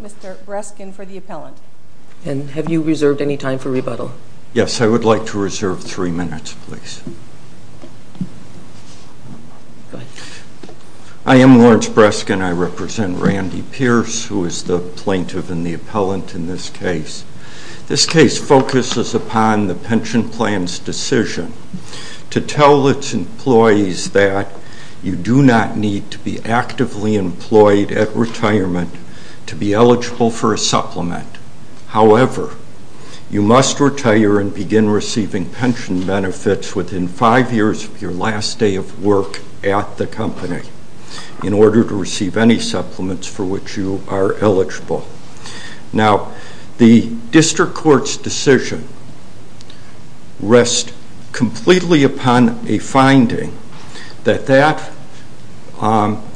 Mr. Breskin for the appellant. And have you reserved any time for rebuttal? Yes, I would like to reserve three minutes, please. Go ahead. I am Lawrence Breskin. I represent Randy Pearce, who is the plaintiff and the appellant in this case. This case focuses upon the pension plan's decision to tell its employees that you do not need to be actively employed at retirement to be eligible for a supplement. However, you must retire and begin receiving pension benefits within five years of your last day of work at the company in order to receive any supplements for which you are eligible. Now, the rest completely upon a finding that that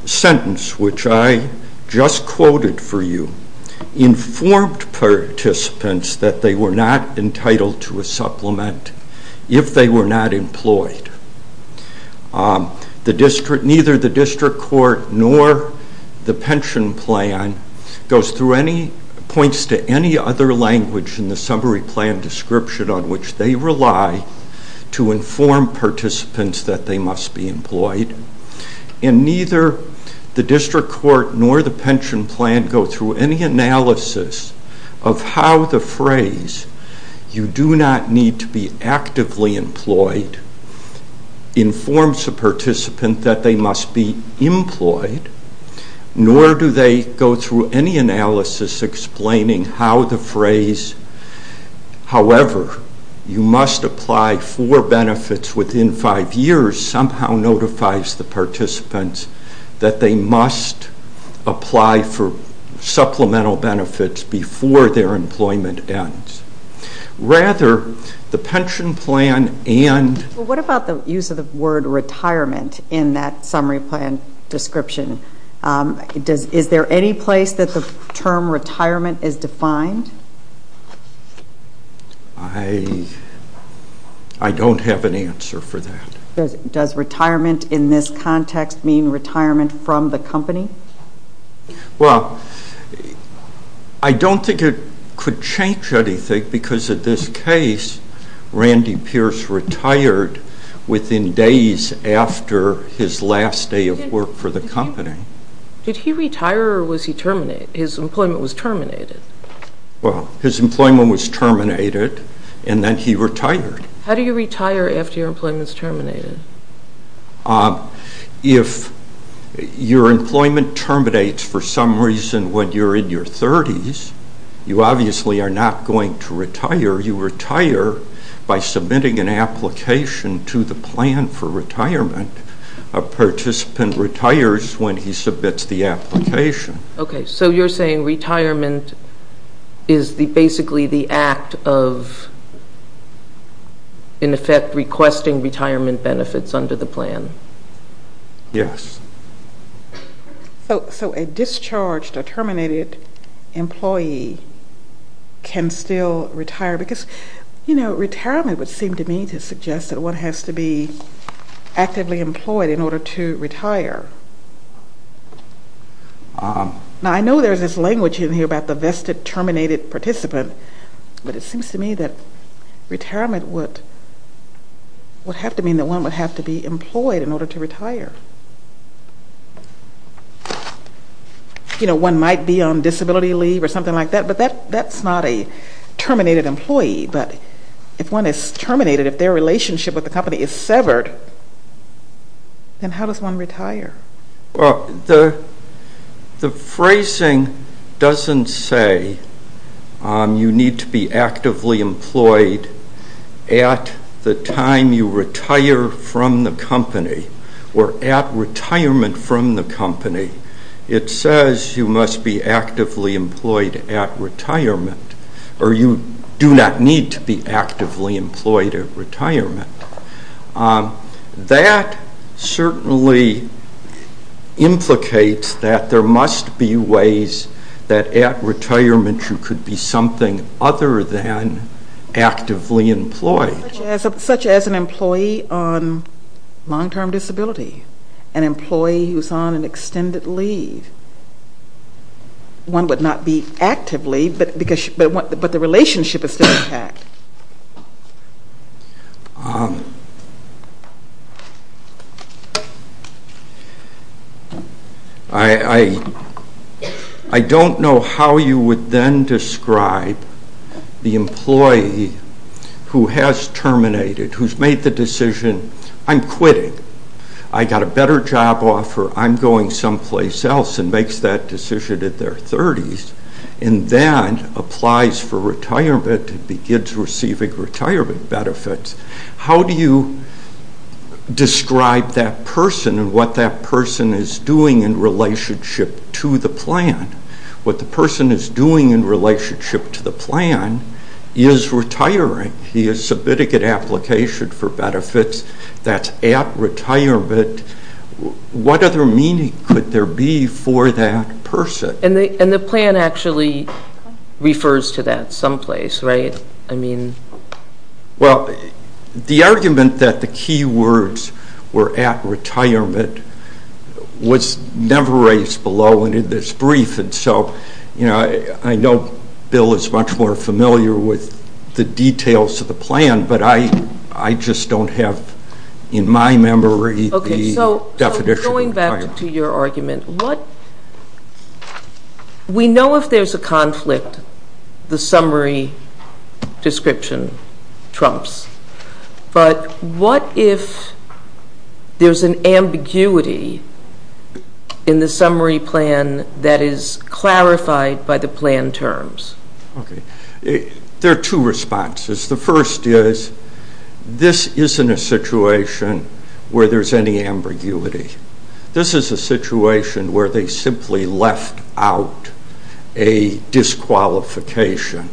sentence, which I just quoted for you, informed participants that they were not entitled to a supplement if they were not employed. Neither the district court nor the pension plan goes through any, points to any other language in the summary plan description on which they rely to inform participants that they must be employed. And neither the district court nor the pension plan go through any analysis of how the phrase you do not need to be actively employed informs the participant that they must be employed nor do they go through any analysis explaining how the phrase, however, you must apply for benefits within five years somehow notifies the participants that they must apply for supplemental benefits before their employment ends. Rather, the pension plan and... What about the use of the word retirement in that summary plan description? Is there any place that the term retirement is defined? I don't have an answer for that. Does retirement in this context mean retirement from the company? Well, I don't think it could change anything because in this case Randy Pierce retired within days after his last day of work for the company. Did he retire or was he terminated? His employment was terminated. Well, his employment was terminated and then he retired. How do you retire after your employment is terminated? If your employment terminates for some reason when you're in your 30s, you obviously are not going to retire. You retire by submitting an application to the plan for retirement. A company submits the application. Okay, so you're saying retirement is basically the act of in effect requesting retirement benefits under the plan? Yes. So a discharged or terminated employee can still retire because retirement would seem to me to suggest that one has to be actively employed in order to Now, I know there's this language in here about the vested terminated participant, but it seems to me that retirement would have to mean that one would have to be employed in order to retire. You know, one might be on disability leave or something like that, but that's not a terminated employee, but if one is terminated, if their relationship with the company is severed, then how does one retire? Well, the phrasing doesn't say you need to be actively employed at the time you retire from the company or at retirement from the company. It says you must be actively employed at retirement, or you do not need to be actively employed at retirement. That certainly implicates that there must be ways that at retirement you could be something other than actively employed. Such as an employee on long-term disability, an employee who's on an extended leave. One would not be actively, but the relationship is still intact.... I don't know how you would then describe the employee who has terminated, who's made the decision, I'm quitting. I got a better job offer, I'm going someplace else, and makes that decision at their 30s, and then applies for retirement and begins receiving retirement benefits. How do you describe that person and what that person is doing in relationship to the plan? What the person is doing in relationship to the plan is retiring. He is submitting an application for benefits that's at retirement. What other meaning could there be for that person? And the plan actually refers to that someplace, right? Well, the argument that the key words were at retirement was never raised below in this brief, and so I know Bill is much more familiar with the details of the plan, but I definition of retirement. Going back to your argument, we know if there's a conflict, the summary description trumps, but what if there's an ambiguity in the summary plan that is clarified by the plan terms? There are two responses. The first is, this isn't a situation where there's any ambiguity. This is a situation where they simply left out a disqualification.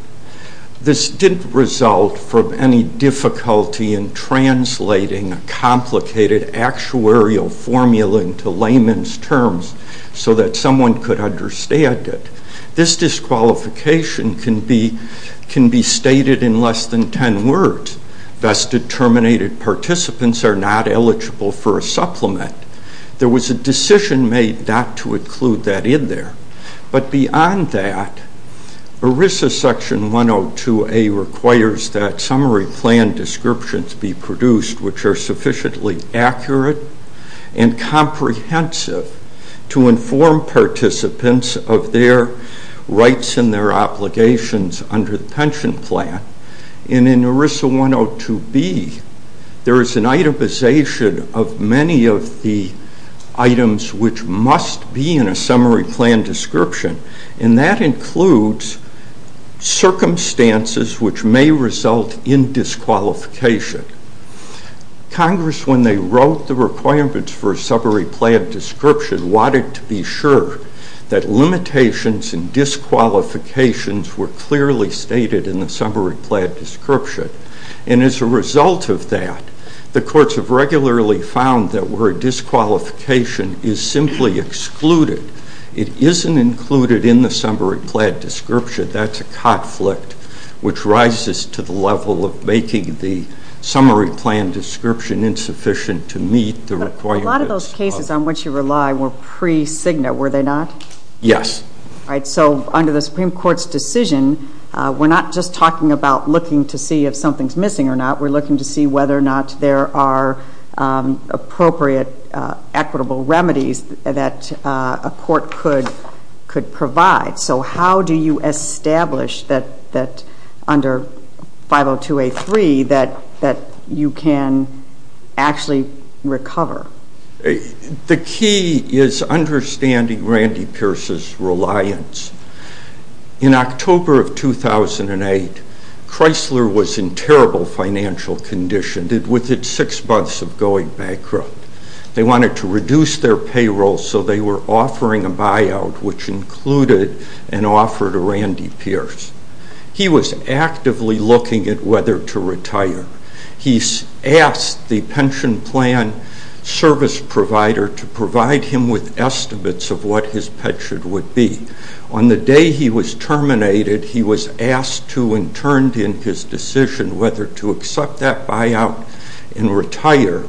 This didn't result from any difficulty in translating a complicated actuarial formula into layman's terms so that someone could understand it. This disqualification can be stated in less than 10 words. Best Determinated Participants are not eligible for a supplement. There was a decision made not to include that in there, but beyond that, ERISA Section 102A requires that summary plan descriptions be produced which are sufficiently accurate and comprehensive to inform participants of their rights and their obligations under the pension plan. In ERISA 102B, there is an itemization of many of the items which must be in a summary plan description, and that includes circumstances which may result in disqualification. Congress, when they wrote the requirements for a summary plan description, wanted to be sure that limitations and disqualifications were clearly stated in the summary plan description, and as a result of that, the courts have regularly found that where a disqualification is simply excluded, it isn't included in the summary plan description. That's a conflict which rises to the level of making the summary plan description insufficient to meet the requirements. But a lot of those cases on which you rely were pre-Cigna, were they not? Yes. Alright, so under the Supreme Court's decision, we're not just talking about looking to see if something's missing or not, we're looking to see whether or not there are appropriate, equitable remedies that a court could provide. So how do you establish that under 502A3 that you can actually recover? The key is understanding Randy Pierce's reliance. In October of 2008, Chrysler was in terrible financial condition with its six months of going bankrupt. They wanted to reduce their payroll, so they were offering a buyout, which included an offer to Randy Pierce. He was actively looking at whether to retire. He asked the pension plan service provider to determine what his pension would be. On the day he was terminated, he was asked to and turned in his decision whether to accept that buyout and retire,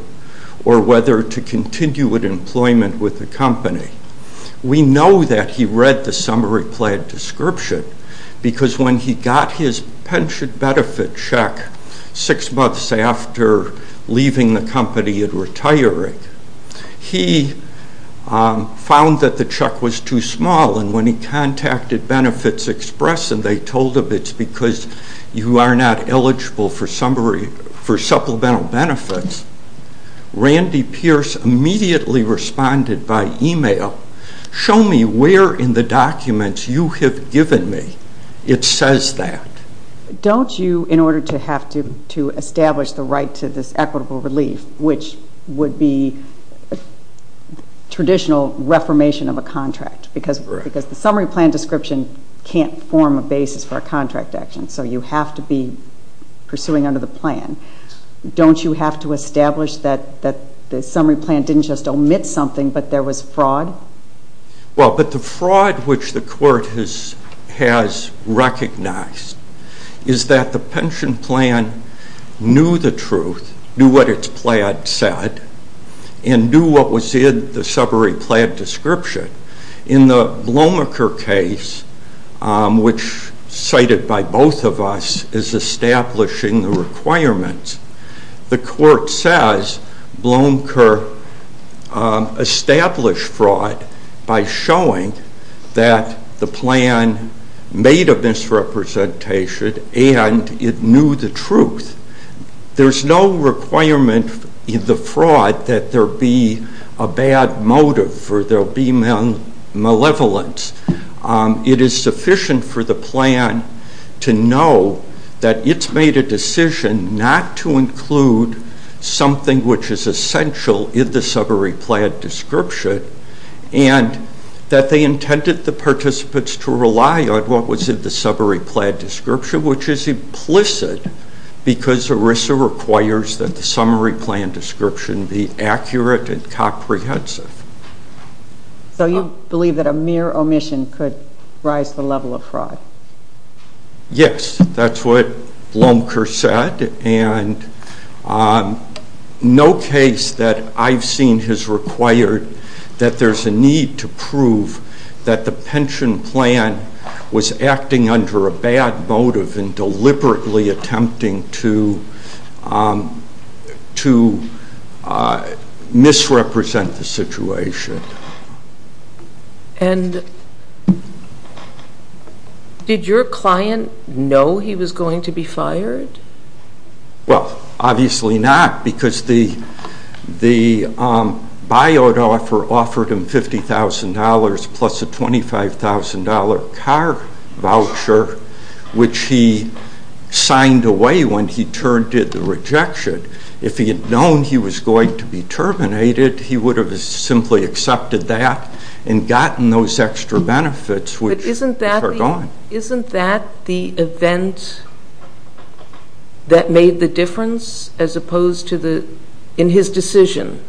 or whether to continue with employment with the company. We know that he read the summary plan description, because when he got his pension benefit check six months after leaving the company and retiring, he found that the check was too small, and when he contacted Benefits Express and they told him it's because you are not eligible for supplemental benefits, Randy Pierce immediately responded by email, show me where in the documents you have given me it says that. Don't you, in order to have to establish the right to this equitable relief, which would be traditional reformation of a contract, because the summary plan description can't form a basis for a contract action, so you have to be pursuing under the plan. Don't you have to establish that the summary plan didn't just omit something, but there was fraud? Well, but the fraud which the court has recognized is that the pension plan knew the truth, knew what its plan said, and knew what was in the summary plan description. In the Blomaker case, which cited by both of us is establishing the requirements, the court says Blomaker established fraud by showing that the plan made a misrepresentation and it knew the truth. There's no requirement in the fraud that there be a bad motive or there be malevolence. It is sufficient for the plan to know that it's made a decision not to include something which is essential in the summary plan description, and that they intended the participants to rely on what was in the summary plan description, which is implicit because ERISA requires that the summary plan description be accurate and comprehensive. So you believe that a mere omission could rise the level of fraud? Yes, that's what Blomaker said, and no case that I've seen has required that there's a need to prove that the pension plan was acting under a bad motive and deliberately attempting to misrepresent the situation. And did your client know he was going to be fired? Well, obviously not, because the buyout offer offered him $50,000 plus a $25,000 car voucher, which he signed away when he turned to the rejection. If he had known he was going to be terminated, he would have simply accepted that and gotten those extra benefits, which are gone. But isn't that the event that made the difference in his decision,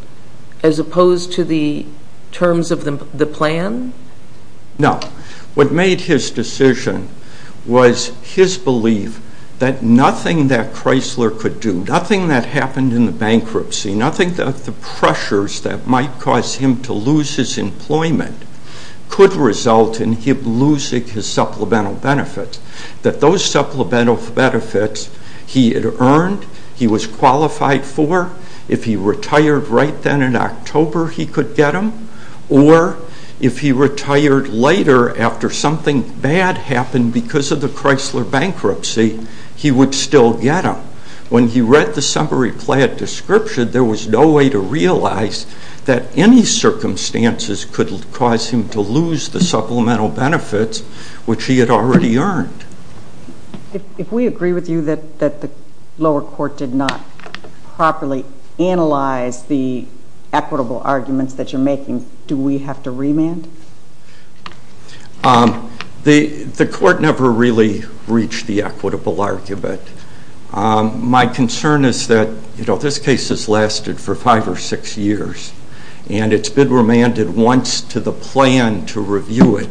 as opposed to the terms of the plan? No. What made his decision was his belief that nothing that Chrysler could do, nothing that happened in the bankruptcy, nothing that the pressures that might cause him to lose his employment could result in him losing his supplemental benefits, that those supplemental benefits he had earned, he was qualified for, if he retired right then in October, he could get them, or if he retired later after something bad happened because of the Chrysler bankruptcy, he would still get them. When he read the summary plan description, there was no way to realize that any circumstances could cause him to lose the supplemental benefits, which he had already earned. If we agree with you that the lower court did not properly analyze the equitable arguments that you're making, do we have to remand? The court never really reached the equitable argument. My concern is that this case has lasted for five or six years, and it's been remanded once to the plan to review it,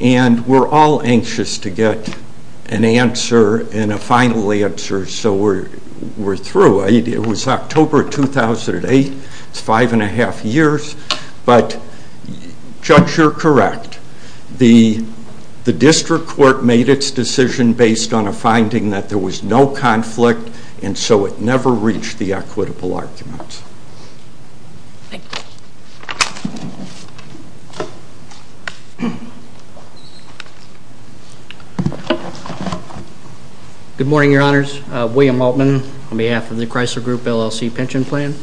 and we're all anxious to get an answer and a final answer so we're through. It was October 2008, it's five and a half years, but Judge you're correct. The district court made its decision based on a finding that there was no conflict, and so it never reached the equitable arguments. Thank you. Good morning, Your Honors. William Altman on behalf of the Chrysler Group LLC Pension Plan.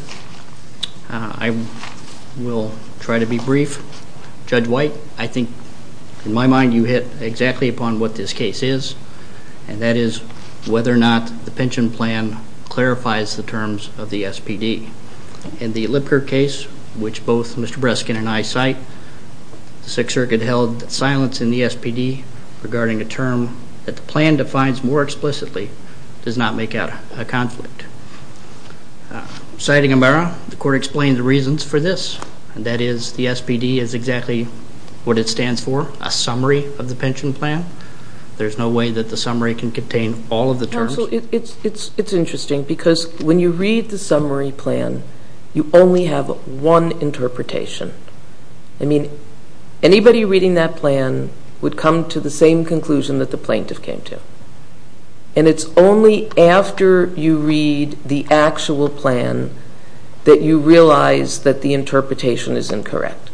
I will try to be brief. Judge White, I think in my mind you hit exactly upon what this case is, and that is whether or not the pension plan clarifies the terms of the SPD. In the Lipker case, which both Mr. Breskin and I cite, the Sixth Circuit held that silence in the SPD regarding a term that the plan defines more explicitly does not make out a conflict. Citing Amara, the court explained the reasons for this, and that is the SPD is exactly what it stands for, a summary of the pension plan. There's no way that the summary can contain all of the terms. It's interesting because when you read the summary plan, you only have one interpretation. Anybody reading that plan would come to the same conclusion that the plaintiff came to, and it's only after you read the actual plan that you realize that the interpretation is incorrect.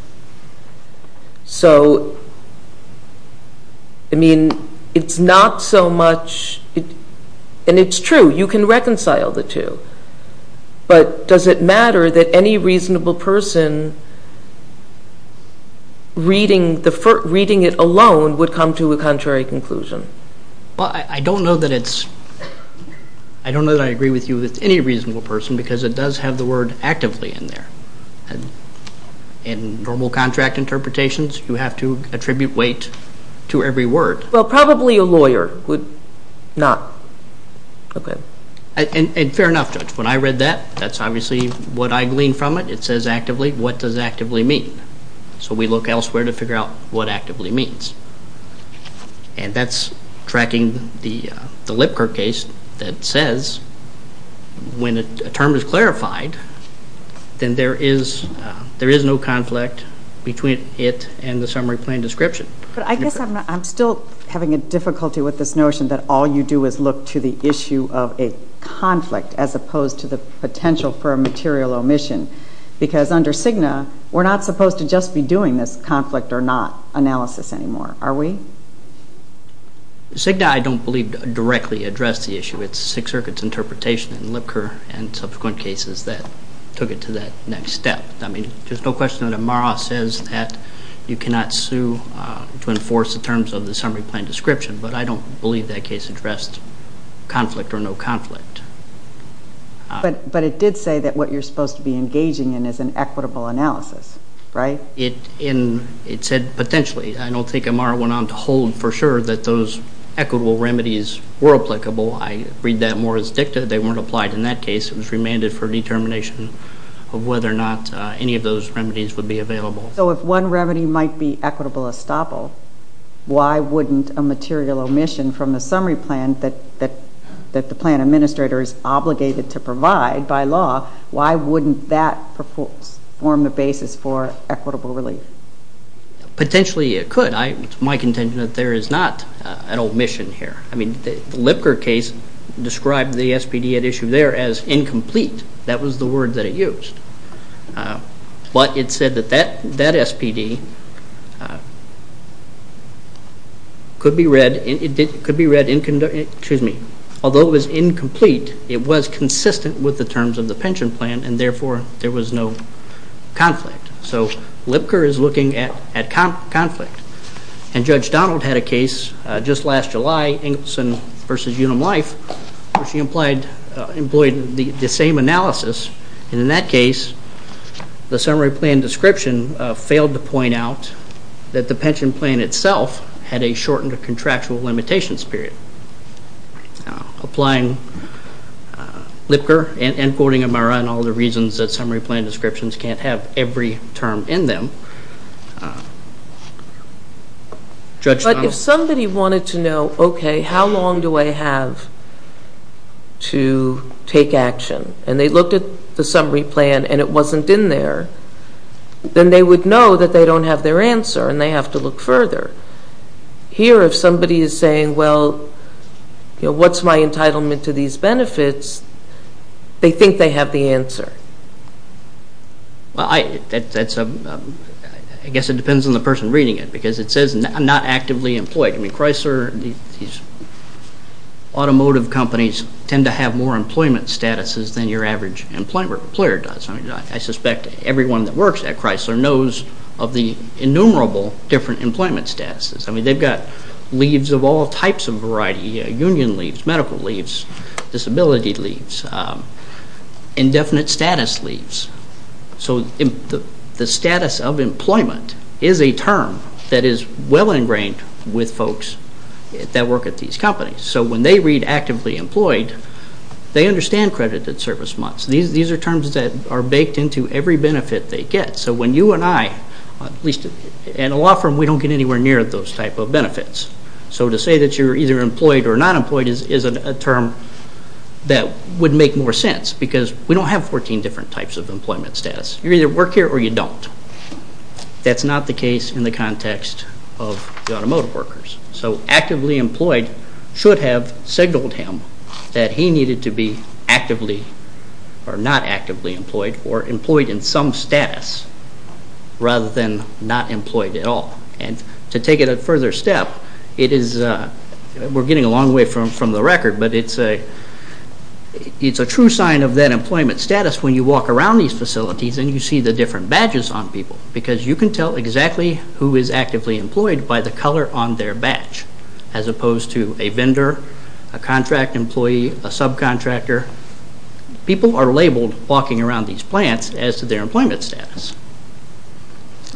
It's not so much, and it's true, you can reconcile the two, but does it matter that any reasonable person reading it alone would come to a contrary conclusion? I don't know that I agree with you with any reasonable person because it does have the word actively in there. In normal contract interpretations, you have to attribute weight to every word. Well, probably a lawyer would not. Fair enough, Judge. When I read that, that's obviously what I gleaned from it. It says actively. What does actively mean? So we look elsewhere to figure out what actively means, and that's tracking the Lipker case that says when a term is clarified, then there is no conflict between it and the summary plan description. But I guess I'm still having a difficulty with this notion that all you do is look to the issue of a conflict as opposed to the potential for a material omission, because under Cigna, we're not supposed to just be doing this conflict or not analysis anymore, are we? Cigna, I don't believe, directly addressed the issue. It's Sixth Circuit's interpretation in Lipker and subsequent cases that took it to that next step. I mean, there's no question that Amara says that you cannot sue to enforce the terms of the summary plan description, but I don't believe that case addressed conflict or no conflict. But it did say that what you're supposed to be engaging in is an equitable analysis, right? It said potentially. I don't think Amara went on to hold for sure that those equitable remedies were applicable. I read that more as dicta. They weren't applied in that case. It was remanded for determination of whether or not any of those remedies might be equitable estoppel. Why wouldn't a material omission from the summary plan that the plan administrator is obligated to provide by law, why wouldn't that form the basis for equitable relief? Potentially it could. It's my contention that there is not an omission here. I mean, the Lipker case described the SPD at issue there as incomplete. That was the word that it used. But it said that that SPD could be read although it was incomplete, it was consistent with the terms of the pension plan and therefore there was no conflict. So Lipker is looking at conflict. And Judge Donald had a case just last July, Engelson v. Unum Life, where she employed the same analysis. And in that case, the summary plan description failed to point out that the pension plan itself had a shortened contractual limitations period. Applying Lipker and quoting Amara and all the reasons that summary plan descriptions can't have every term in them, Judge Donald... But if somebody wanted to know, okay, how long do I have to take action? And they looked at the summary plan and it wasn't in there, then they would know that they don't have their answer and they have to look further. Here if somebody is saying, well, what's my entitlement to these benefits, they think they have the answer. Well, I guess it depends on the person reading it because it says I'm not actively employed. I mean, Chrysler these automotive companies tend to have more employment statuses than your average employer does. I suspect everyone that works at Chrysler knows of the innumerable different employment statuses. I mean, they've got leaves of all types of variety, union leaves, medical leaves, disability leaves, indefinite status leaves. So the status of employment is a term that is well ingrained with folks that work at these companies. So when they read actively employed, they understand credited service months. These are terms that are baked into every benefit they get. So when you and I at least in a law firm, we don't get anywhere near those type of benefits. So to say that you're either employed or not employed is a term that would make more sense because we don't have 14 different types of employment status. You either work here or you don't. That's not the case in the context of the automotive workers. So actively employed should have signaled him that he needed to be actively or not actively employed or employed in some status rather than not employed at all. And to take it a further step, it is, we're getting a long way from the record, but it's a true sign of that employment status when you walk around these facilities and you see the different badges on people because you can tell exactly who is actively employed by the color on their badge as opposed to a vendor, a contract employee, a subcontractor. People are labeled walking around these plants as to their employment status.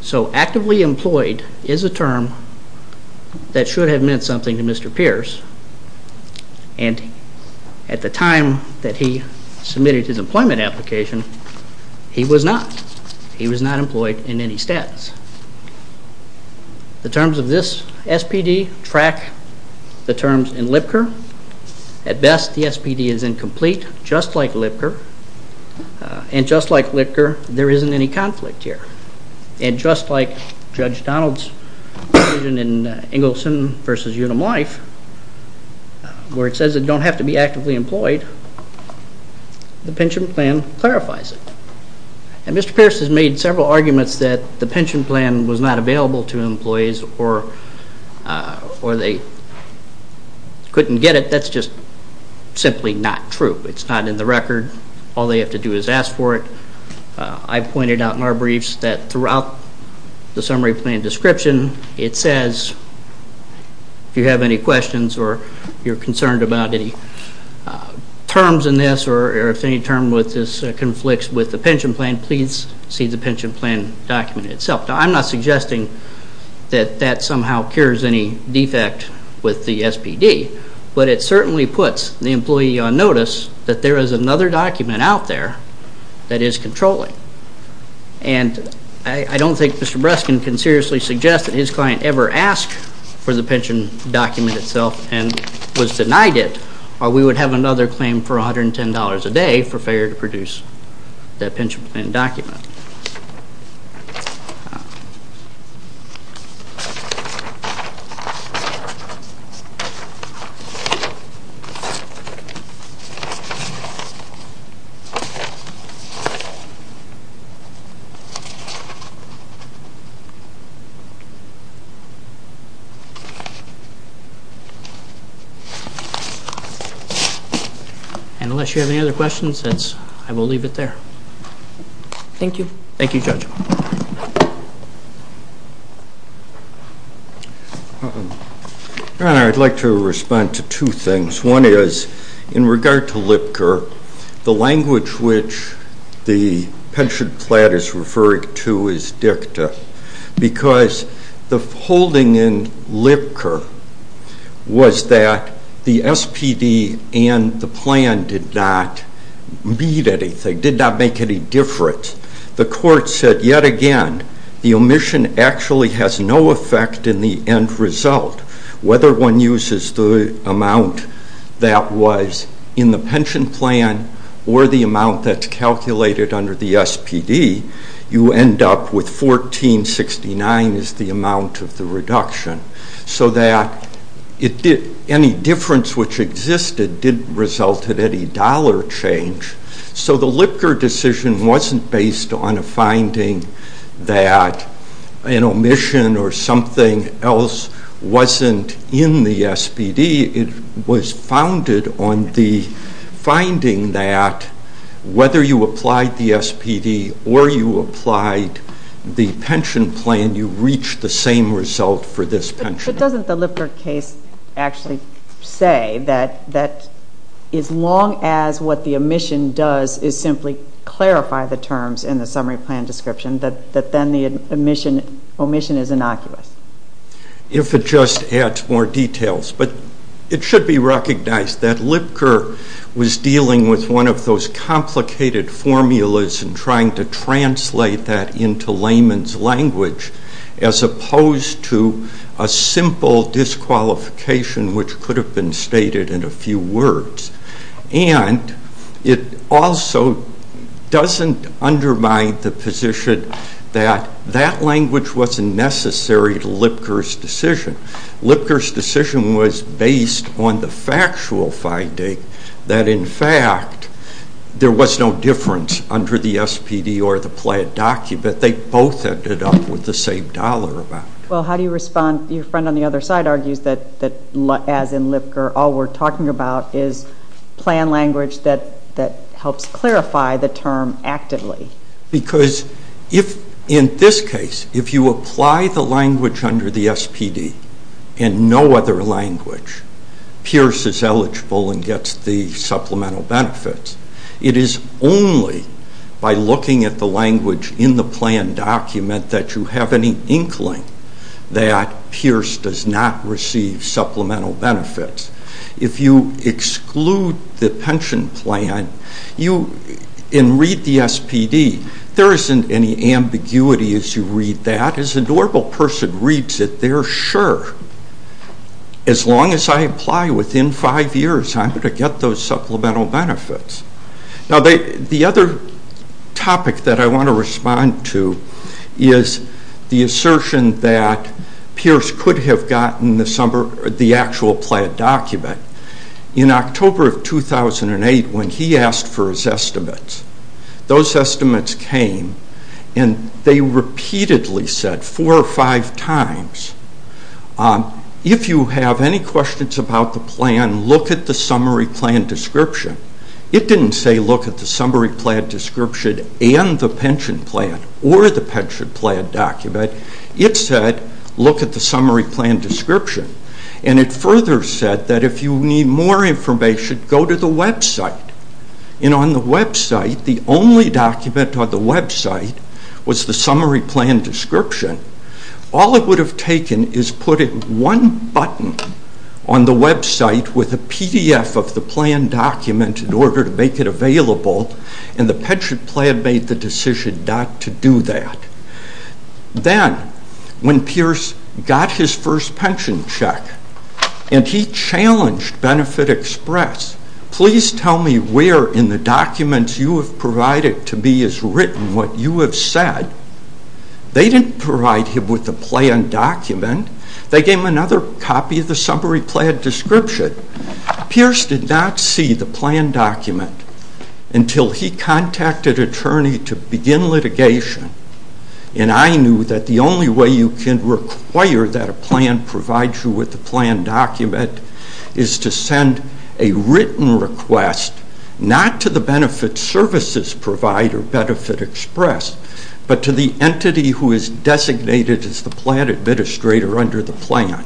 So actively employed is a term that should have meant something to Mr. Pierce and at the time that he submitted his employment application he was not. He was not employed in any status. The terms of this SPD track the terms in LPCR. At best the SPD is incomplete, just like LPCR. And just like LPCR there isn't any conflict here. And just like Judge Donald's provision in Engelson v. Unum Life where it says that you don't have to be actively employed, the pension plan clarifies it. And Mr. Pierce has made several arguments that the pension plan was not available to employees or they couldn't get it. That's just simply not true. It's not in the record. All they have to do is ask for it. I've pointed out in our briefs that throughout the summary plan description it says if you have any questions or you're concerned about any terms in this or if any term conflicts with the pension plan, please see the pension plan document itself. Now I'm not suggesting that that somehow cures any defect with the SPD, but it certainly puts the employee on notice that there is another document out there that is controlling. And I don't think Mr. Breskin can seriously suggest that his client ever asked for the pension document itself and was denied it or we would have another claim for $110 a day for failure to produce that pension plan document. And unless you have any other questions, I will leave it there. Thank you. Thank you, Judge. Your Honor, I'd like to respond to two things. One is, in regard to LPCR, the language which the pension plan is referring to is dicta because the holding in LPCR was that the SPD and the plan did not meet anything, did not make any difference. The court said, yet again, the omission actually has no effect in the end result. Whether one uses the amount that was in the pension plan or the amount that's calculated under the SPD, you end up with $1,469 as the reduction. So that any difference which existed didn't result in any dollar change. So the LPCR decision wasn't based on a finding that an omission or something else wasn't in the SPD. It was founded on the finding that whether you applied the SPD or you applied the pension plan, you reached the same result for this pension. But doesn't the LPCR case actually say that as long as what the omission does is simply clarify the terms in the summary plan description, that then the omission is innocuous? If it just adds more details. But it should be recognized that LPCR was dealing with one of those complicated formulas and trying to translate that into layman's language as opposed to a simple disqualification which could have been stated in a few words. And it also doesn't undermine the position that that language wasn't necessary to LPCR's decision. LPCR's decision was based on the factual finding that in fact there was no difference under the SPD or the plan document. They both ended up with the same dollar amount. Well, how do you respond? Your friend on the other side argues that as in LPCR, all we're talking about is plan language that helps clarify the term actively. Because in this case, if you apply the language under the SPD and no other language appears as eligible and gets the supplemental benefits, it is only by looking at the language in the plan document that you have any inkling that Pierce does not receive supplemental benefits. If you exclude the pension plan and read the SPD, there isn't any ambiguity as you read that. As a normal person reads it, they're sure. As long as I apply within five years, I'm going to get those supplemental benefits. Now the other topic that I want to respond to is the assertion that Pierce could have gotten the actual plan document. In October of 2008 when he asked for his estimates, those estimates came and they repeatedly said four or five times if you have any questions about the plan, look at the summary plan description. It didn't say look at the summary plan description and the pension plan or the pension plan document. It said look at the summary plan description. And it further said that if you need more information, go to the website. And on the website the only document on the website was the summary plan description. All it would have taken is put in one button on the website with a PDF of the plan document in order to make it available and the pension plan made the decision not to do that. Then when Pierce got his first pension check and he challenged Benefit Express, please tell me where in the documents you have provided to me is written what you have said. They didn't provide him with the plan document. They gave him another copy of the summary plan description. Pierce did not see the plan document until he contacted an attorney to begin litigation and I knew that the only way you can require that a plan provide you with the plan document is to send a written request, not to the benefit services provider, Benefit Express, but to the entity who is designated as the plan administrator under the plan.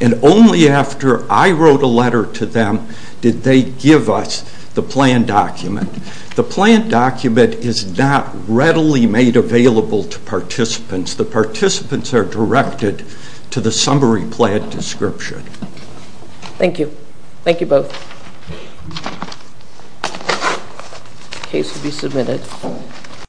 And only after I wrote a letter to them did they give us the plan document. The plan document is not readily made available to participants. The participants are directed to the summary plan description. Thank you. Thank you both. The case will be submitted.